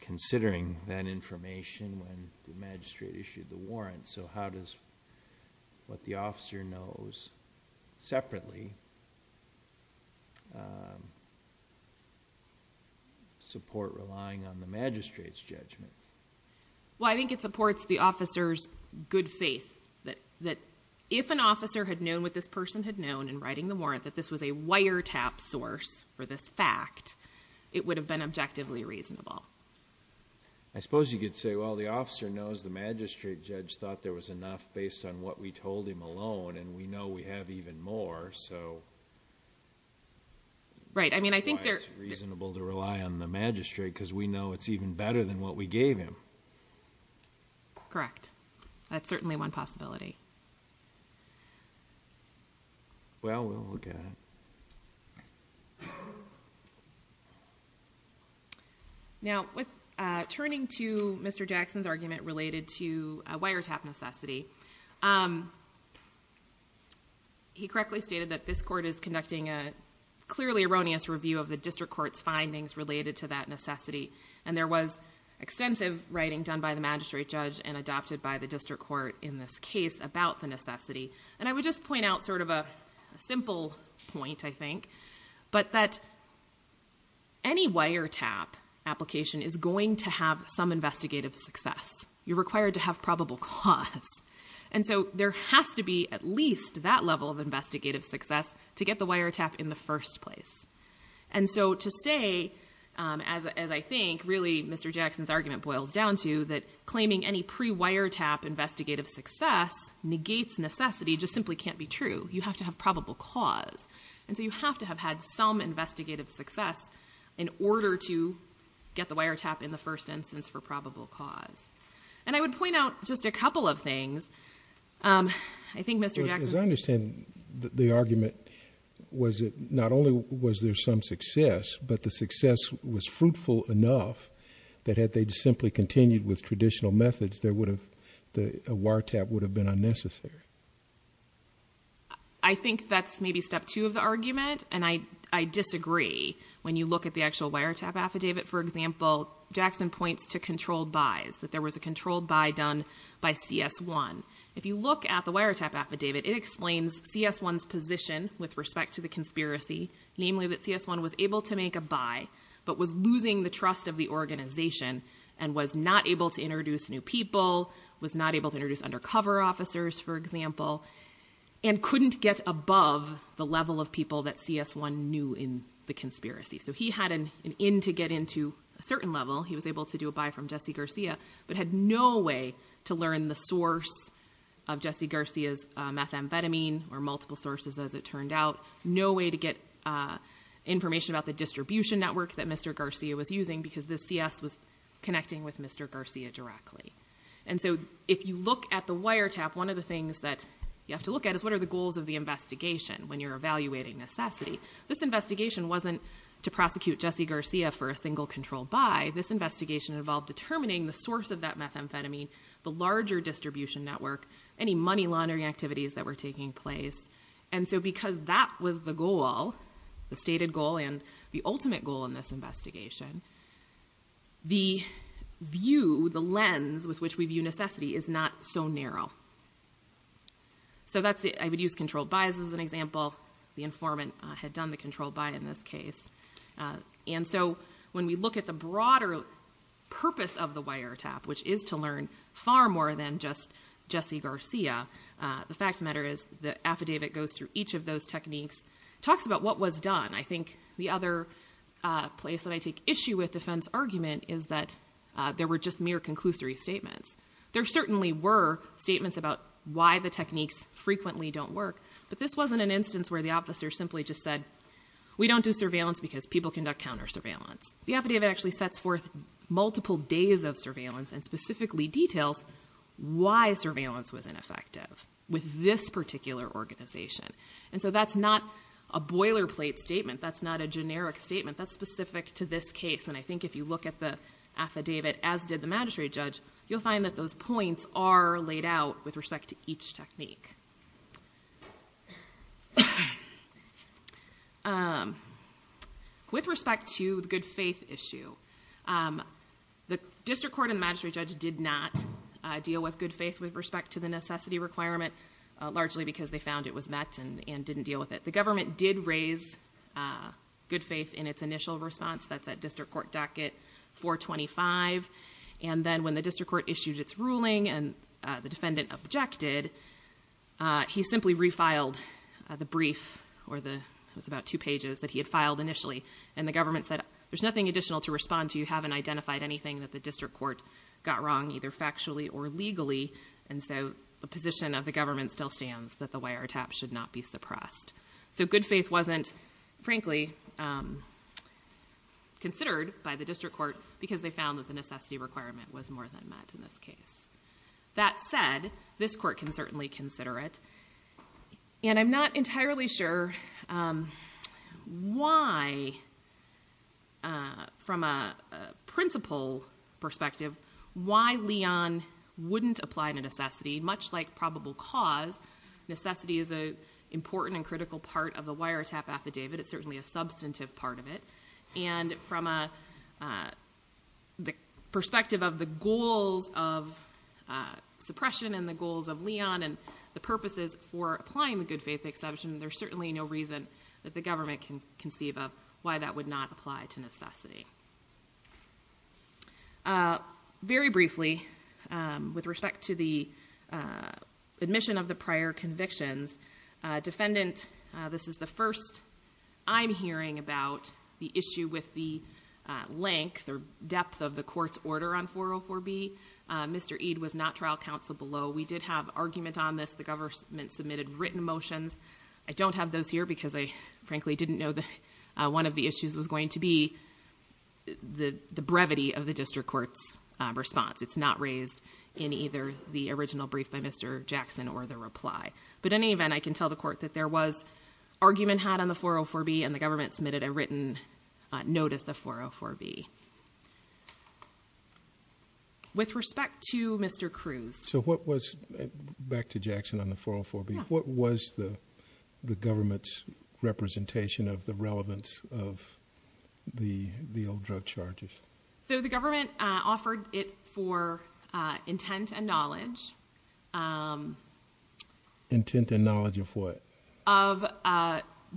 considering that information when the magistrate issued the warrant, so how does what the officer knows separately support relying on the magistrate's judgment? Well, I think it supports the officer's good faith that if an officer had known what this person had known in writing the warrant, that this was a wiretap source for this fact, it would have been objectively reasonable. I suppose you could say, well, the officer knows the magistrate judge thought there was enough based on what we told him alone, and we know we have even more, so... Right, I mean, I think there... Why it's reasonable to rely on the magistrate, because we know it's even better than what we gave him. Correct. That's certainly one possibility. Well, we'll look at it. All right. Now, turning to Mr. Jackson's argument related to a wiretap necessity, he correctly stated that this court is conducting a clearly erroneous review of the district court's findings related to that necessity, and there was extensive writing done by the magistrate judge and adopted by the district court in this case about the necessity. And I would just point out sort of a simple point, I think, but that any wiretap application is going to have some investigative success. You're required to have probable cause. And so there has to be at least that level of investigative success to get the wiretap in the first place. And so to say, as I think, really, Mr. Jackson's argument boils down to that claiming any pre-wiretap investigative success negates necessity just simply can't be true. You have to have probable cause. And so you have to have had some investigative success in order to get the wiretap in the first instance for probable cause. And I would point out just a couple of things. I think Mr. Jackson... As I understand the argument, was it not only was there some success, but the success was fruitful enough that had they simply continued with traditional methods, a wiretap would have been unnecessary? I think that's maybe step two of the argument. And I disagree. When you look at the actual wiretap affidavit, for example, Jackson points to controlled buys, that there was a controlled buy done by CS1. If you look at the wiretap affidavit, it explains CS1's position with respect to the conspiracy, namely that CS1 was able to make a buy, but was losing the trust of the organization and was not able to introduce new people, was not able to introduce undercover officers, for example, and couldn't get above the level of people that CS1 knew in the conspiracy. So he had an in to get into a certain level. He was able to do a buy from Jesse Garcia, but had no way to learn the source of Jesse Garcia's methamphetamine or multiple sources, as it turned out. No way to get information about the distribution network that Mr. Garcia was using, because the CS was connecting with Mr. Garcia directly. And so if you look at the wiretap, one of the things that you have to look at is what are the goals of the investigation when you're evaluating necessity? This investigation wasn't to prosecute Jesse Garcia for a single controlled buy. This investigation involved determining the source of that methamphetamine, the larger distribution network, any money laundering activities that were taking place. And so because that was the goal, the stated goal and the ultimate goal in this investigation, the view, the lens with which we view necessity is not so narrow. So that's the, I would use controlled buys as an example. The informant had done the controlled buy in this case. And so when we look at the broader purpose of the wiretap, which is to learn far more than just Jesse Garcia, the fact of the matter is the affidavit goes through each of those techniques, talks about what was done. I think the other place that I take issue with defense argument is that there were just mere conclusory statements. There certainly were statements about why the techniques frequently don't work, but this wasn't an instance where the officer simply just said, we don't do surveillance because people conduct counter surveillance. The affidavit actually sets forth multiple days of surveillance and specifically details why surveillance was ineffective with this particular organization. And so that's not a boilerplate statement. That's not a generic statement. That's specific to this case. And I think if you look at the affidavit, as did the magistrate judge, you'll find that those points are laid out with respect to each technique. With respect to the good faith issue, the district court and the magistrate judge did not deal with good faith with respect to the necessity requirement, largely because they found it was met and didn't deal with it. The government did raise good faith in its initial response. That's at district court docket 425. And then when the district court issued its ruling and the defendant objected, he simply refiled the brief or it was about two pages that he had filed initially. And the government said, there's nothing additional to respond to. You haven't identified anything that the district court got wrong, either factually or legally. And so the position of the government still stands that the wiretap should not be suppressed. So good faith wasn't frankly considered by the district court because they found that the necessity requirement was more than met in this case. That said, this court can certainly consider it. And I'm not entirely sure why from a principal perspective, why Leon wouldn't apply to necessity much like probable cause. Necessity is an important and critical part of the wiretap affidavit. It's certainly a substantive part of it. And from the perspective of the goals of suppression and the goals of Leon and the purposes for applying the good faith exception, there's certainly no reason that the government can conceive of why that would not apply to necessity. Very briefly with respect to the admission of the prior convictions. Defendant, this is the first I'm hearing about the issue with the length or depth of the court's order on 404B. Mr. Eade was not trial counsel below. We did have argument on this. The government submitted written motions I don't have those here because I frankly didn't know that one of the issues was going to be the brevity of the district court's response. It's not raised in either the original brief by Mr. Jackson or the reply. But in any event, I can tell the court that there was argument had on the 404B and the government submitted a written notice the 404B. With respect to Mr. Cruz. So what was back to Jackson on the 404B? What was the government's representation of the relevance of the old drug charges? So the government offered it for intent and knowledge. Intent and knowledge of what? Of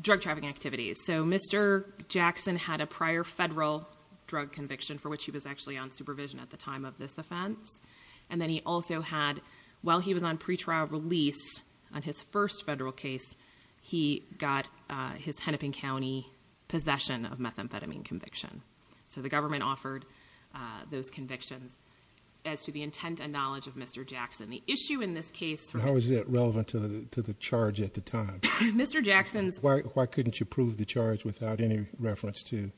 drug trafficking activities. So Mr. Jackson had a prior federal drug conviction for which he was actually on supervision at the time of this offense. And then he also had, while he was on pretrial release on his first federal case, he got his Hennepin County possession of methamphetamine conviction. So the government offered those convictions as to the intent and knowledge of Mr. Jackson. The issue in this case. How is that relevant to the charge at the time? Mr. Jackson's. Why couldn't you prove the charge without any reference to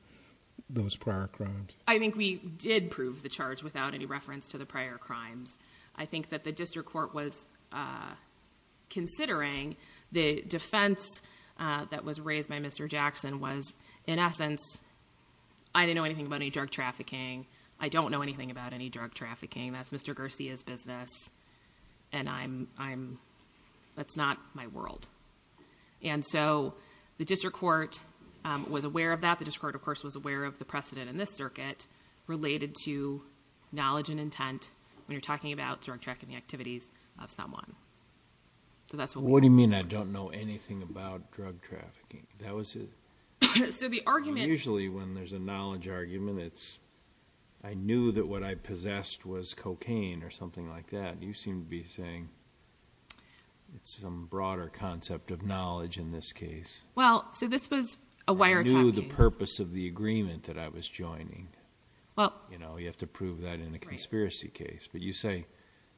those prior crimes? I think we did prove the charge without any reference to the prior crimes. I think that the district court was considering the defense that was raised by Mr. Jackson was in essence. I didn't know anything about any drug trafficking. I don't know anything about any drug trafficking. That's Mr. Garcia's business. And I'm, I'm, that's not my world. And so the district court was aware of that. The district court, of course, was aware of the precedent in this circuit related to knowledge and intent. When you're talking about drug trafficking activities of someone. So that's what. What do you mean? I don't know anything about drug trafficking. That was it. So the argument usually when there's a knowledge argument, it's I knew that what I possessed was cocaine or something like that. You seem to be saying it's some broader concept of knowledge in this case. Well, so this was a wire. The purpose of the agreement that I was joining. Well, you know, you have to prove that in a conspiracy case, but you say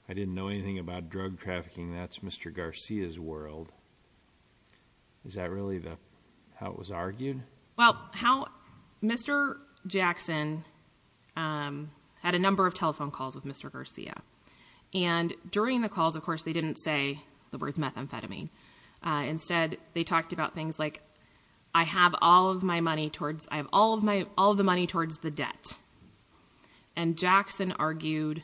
I didn't know anything about drug trafficking. That's Mr. Garcia's world. Is that really the how it was argued? Well, how Mr. Jackson had a number of telephone calls with Mr. Garcia. And during the calls, of course, they didn't say the words methamphetamine. Instead, they talked about things like I have all of my money towards I have all of my all the money towards the debt. And Jackson argued,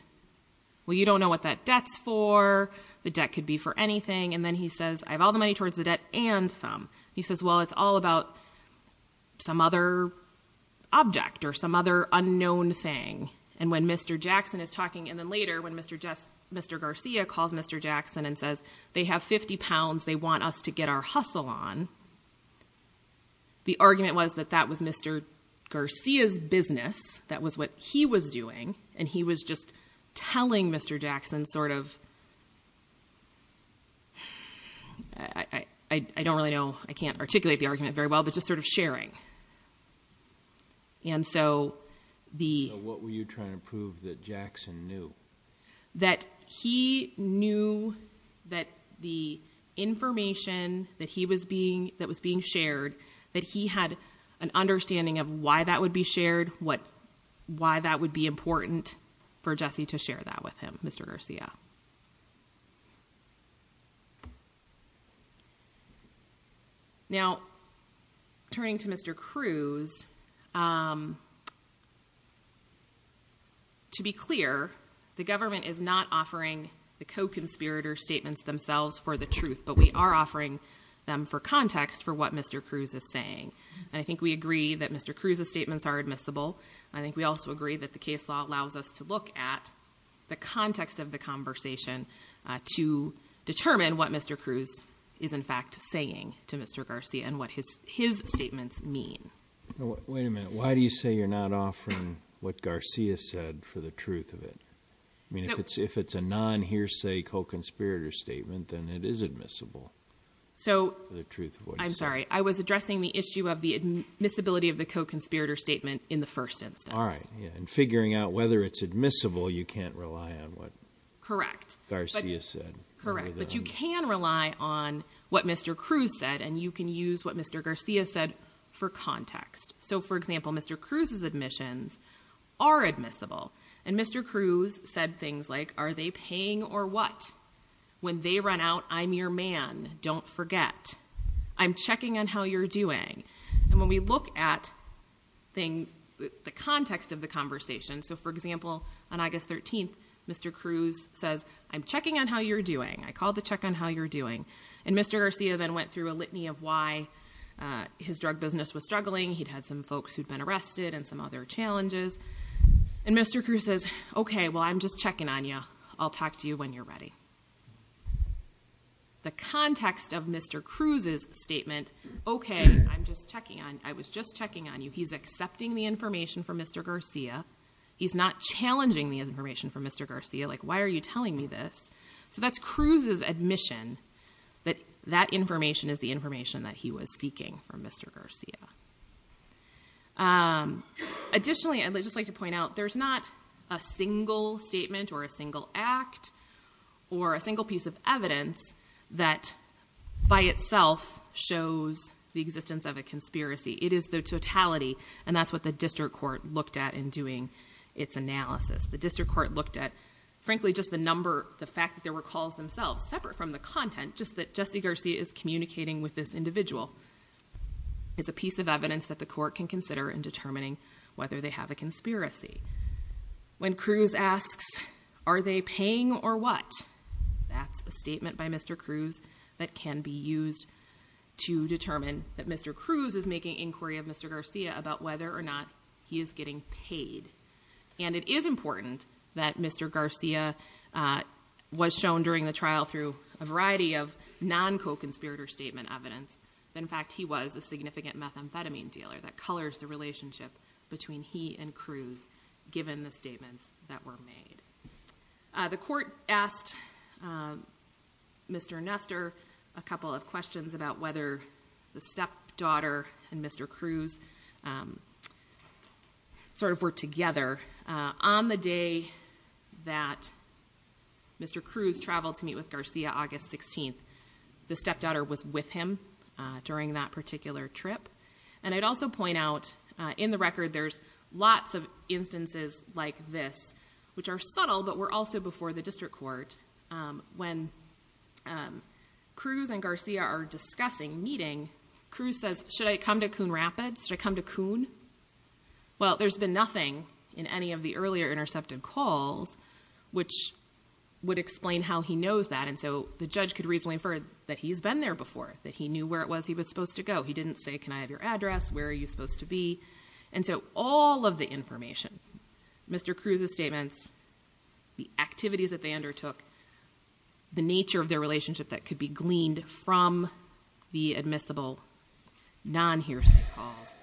well, you don't know what that debt's for. The debt could be for anything. And then he says, I have all the money towards the debt and some. He says, well, it's all about some other object or some other unknown thing. And when Mr. Jackson is talking and then later when Mr. Mr. Garcia calls Mr. Jackson and says they have 50 pounds, they want us to get our hustle on. The argument was that that was Mr. Garcia's business. That was what he was doing. And he was just telling Mr. Jackson sort of. I don't really know. I can't articulate the argument very well, but just sort of sharing. And so the what were you trying to prove that Jackson knew? That he knew that the information that he was being that was being shared, that he had an understanding of why that would be shared, what why that would be important for Jesse to share that with him, Mr. Garcia. Now, turning to Mr. Cruz. To be clear, the government is not offering the co-conspirator statements themselves for the truth, but we are offering them for context And I think we agree that Mr. Cruz's statements are admissible. I think we also agree that the case law allows us to look at the context of the conversation to determine what Mr. Cruz is, in fact, saying to Mr. Garcia and what his his statements mean. Wait a minute. Why do you say you're not offering what Garcia said for the truth of it? I mean, if it's if it's a non hearsay co-conspirator statement, then it is admissible. So the truth. I'm sorry. I was addressing the issue of the admissibility of the co-conspirator statement in the first instance. All right. And figuring out whether it's admissible, you can't rely on what. Correct. Garcia said. Correct. But you can rely on what Mr. Cruz said and you can use what Mr. Garcia said for context. So, for example, Mr. Cruz's admissions are admissible. And Mr. Cruz said things like, are they paying or what? When they run out, I'm your man. Don't forget. I'm checking on how you're doing. And when we look at things, the context of the conversation. So, for example, on August 13th, Mr. Cruz says, I'm checking on how you're doing. I called to check on how you're doing. And Mr. Garcia then went through a litany of why his drug business was struggling. He'd had some folks who'd been arrested and some other challenges. And Mr. Cruz says, OK, well, I'm just checking on you. I'll talk to you when you're ready. The context of Mr. Cruz's statement. OK, I'm just checking on. I was just checking on you. He's accepting the information from Mr. Garcia. He's not challenging the information from Mr. Garcia. Like, why are you telling me this? So that's Cruz's admission that that information is the information that he was seeking from Mr. Garcia. Additionally, I'd just like to point out, there's not a single statement or a single act or a single piece of evidence that by itself shows the existence of a conspiracy. It is the totality. And that's what the district court looked at in doing its analysis. The district court looked at, frankly, just the number, the fact that there were calls themselves separate from the content, just that Jesse Garcia is communicating with this individual. It's a piece of evidence that the court can consider in determining whether they have a conspiracy. When Cruz asks, are they paying or what? That's a statement by Mr. Cruz that can be used to determine that Mr. Cruz is making inquiry of Mr. Garcia about whether or not he is getting paid. And it is important that Mr. Garcia was shown during the trial through a variety of non-coconspirator statement evidence. In fact, he was a significant methamphetamine dealer that colors the relationship between he and Cruz, given the statements that were made. The court asked Mr. Nestor a couple of questions about whether the stepdaughter and Mr. Cruz sort of were together on the day that Mr. Cruz traveled to meet with Garcia August 16th. The stepdaughter was with him during that particular trip. And I'd also point out in the record, there's lots of instances like this, which are subtle, but were also before the district court. When Cruz and Garcia are discussing meeting, Cruz says, should I come to Coon Rapids? Should I come to Coon? Well, there's been nothing in any of the earlier intercepted calls, which would explain how he knows that. And so the judge could reasonably infer that he's been there before, that he knew where it was he was supposed to go. He didn't say, can I have your address? Where are you supposed to be? And so all of the information, Mr. Cruz's statements, the activities that they undertook, the nature of their relationship that could be gleaned from the admissible non-hearsay calls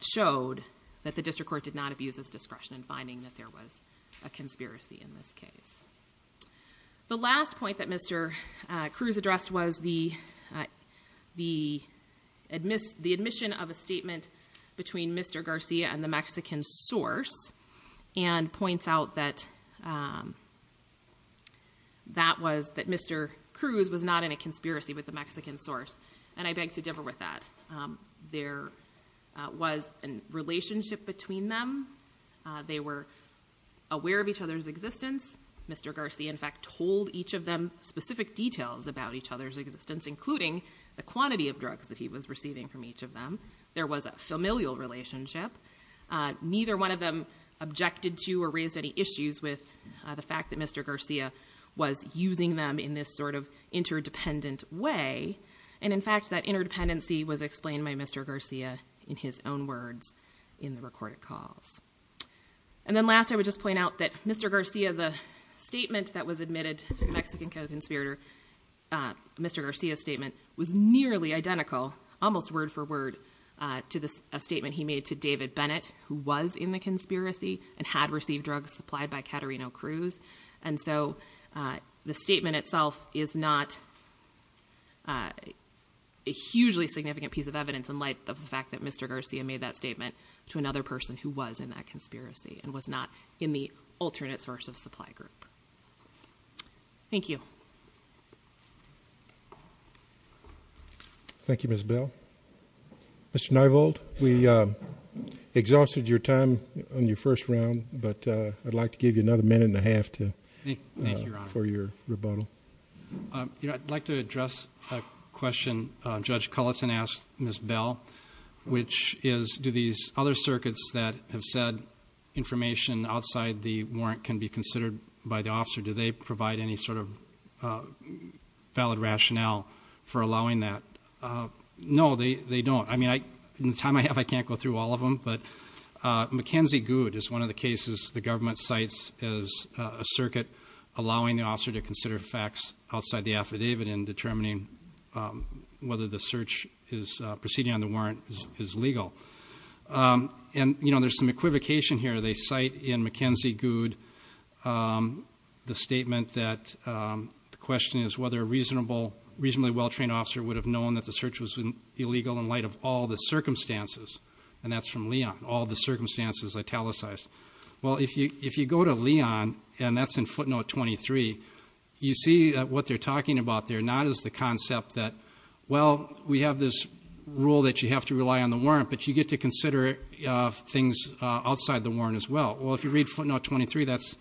showed that the district court did not abuse his discretion in finding that there was a conspiracy in this case. The last point that Mr. Cruz addressed was the admission of a statement between Mr. Garcia and the Mexican source. And points out that that was that Mr. Cruz was not in a conspiracy with the Mexican source. And I beg to differ with that. There was a relationship between them. They were aware of each other's existence. Mr. Garcia, in fact, told each of them specific details about each other's existence, including the quantity of drugs that he was receiving from each of them. There was a familial relationship. Neither one of them objected to or raised any issues with the fact that Mr. Garcia was using them in this sort of interdependent way. And in fact, that interdependency was explained by Mr. Garcia in his own words in the recorded calls. And then last, I would just point out that Mr. Garcia, the statement that was admitted to the Mexican co-conspirator, Mr. Garcia's statement was nearly identical, almost word for word, to the statement he made to David Bennett, who was in the conspiracy and had received drugs supplied by Caterino Cruz. And so the statement itself is not a hugely significant piece of evidence in light of the fact that Mr. Garcia made that statement to another person who was in that conspiracy and was not in the alternate source of supply group. Thank you. Thank you, Ms. Bell. Mr. Nievold, we exhausted your time on your first round, but I'd like to give you another minute and a half to thank you for your rebuttal. I'd like to address a question Judge Culleton asked Ms. Bell, which is, do these other circuits that have said information outside the warrant can be considered by the officer? Do they provide any sort of valid rationale for allowing that? No, they don't. I mean, in the time I have, I can't go through all of them, but McKenzie Good is one of the cases the government cites as a circuit allowing the officer to consider facts outside the affidavit in determining whether the search is proceeding on the warrant is legal. And, you know, there's some equivocation here. They cite in McKenzie Good the statement that the question is whether a reasonable, reasonably well-trained officer would have known that the search was illegal in light of all the circumstances. And that's from Leon, all the circumstances italicized. Well, if you go to Leon and that's in footnote 23, you see what they're talking about there, not as the concept that, well, we have this rule that you have to rely on the warrant, but you get to consider things outside the warrant as well. Well, if you read footnote 23, that's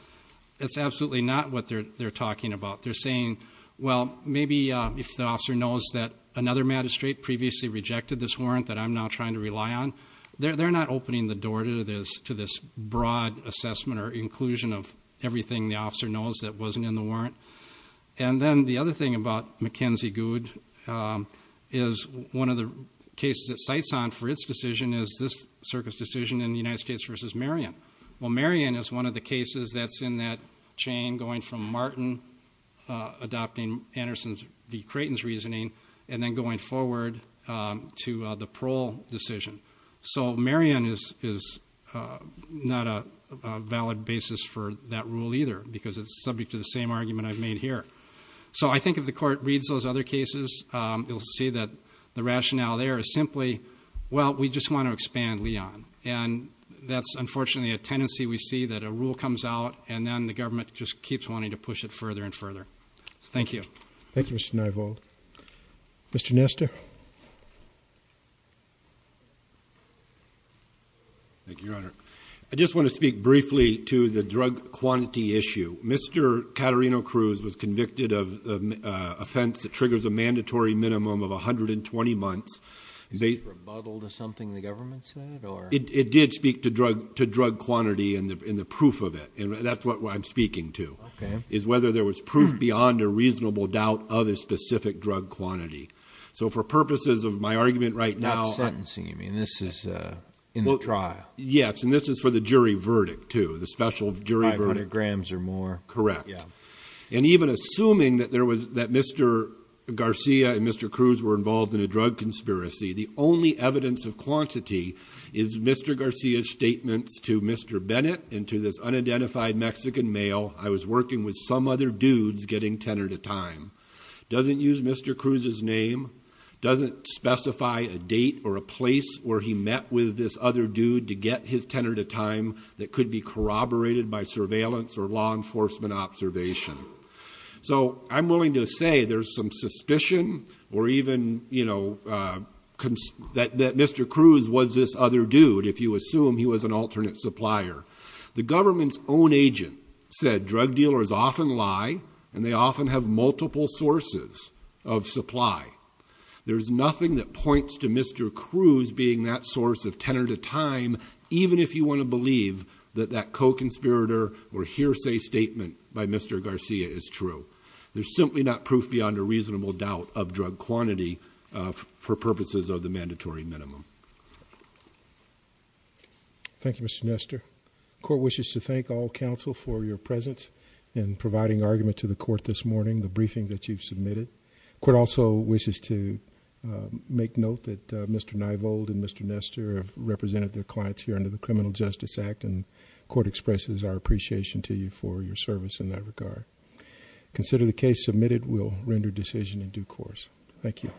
absolutely not what they're talking about. They're saying, well, maybe if the officer knows that another magistrate previously rejected this warrant that I'm now trying to rely on, they're not opening the door to this broad assessment or inclusion of everything the officer knows that wasn't in the warrant. And then the other thing about McKenzie Good is one of the cases it cites on for its decision is this circuit's decision in the United States versus Marion. Well, Marion is one of the cases that's in that chain going from Martin adopting Anderson v. Creighton's reasoning and then going forward to the parole decision. So Marion is not a valid basis for that rule either because it's subject to the same argument I've made here. So I think if the court reads those other cases, you'll see that the rationale there is simply, well, we just want to expand Leon. And that's unfortunately a tendency we see that a rule comes out and then the government just keeps wanting to push it further and further. Thank you. Thank you, Mr. Nievold. Mr. Nesta. Thank you, Your Honor. I just want to speak briefly to the drug quantity issue. Mr. Caterino-Cruz was convicted of an offense that triggers a mandatory minimum of 120 months. Is this rebuttal to something the government said or? It did speak to drug quantity and the proof of it. And that's what I'm speaking to, is whether there was proof beyond a reasonable doubt of a specific drug quantity. So for purposes of my argument right now. Sentencing, you mean? This is in the trial. Yes. And this is for the jury verdict too, the special jury verdict. 500 grams or more. Correct. And even assuming that Mr. Garcia and Mr. Cruz were involved in a drug conspiracy, the only evidence of quantity is Mr. Garcia's statements to Mr. Bennett and to this unidentified Mexican male. I was working with some other dudes getting tenor to time. Doesn't use Mr. Cruz's name. Doesn't specify a date or a place where he met with this other dude to get his tenor to time that could be corroborated by surveillance or law enforcement observation. So I'm willing to say there's some suspicion or even, you know, that Mr. Cruz was this other dude if you assume he was an alternate supplier. The government's own agent said drug dealers often lie and they often have multiple sources of supply. There's nothing that points to Mr. Cruz being that source of tenor to time even if you want to believe that that co-conspirator or hearsay statement by Mr. Garcia is true. There's simply not proof beyond a reasonable doubt of drug quantity for purposes of the mandatory minimum. Thank you, Mr. Nestor. Court wishes to thank all counsel for your presence in providing argument to the court this morning, the briefing that you've submitted. Court also wishes to make note that Mr. Nievold and Mr. Nestor have represented their clients here under the Criminal Justice Act and court expresses our appreciation to you for your service in that regard. Consider the case submitted will render decision in due course. Thank you.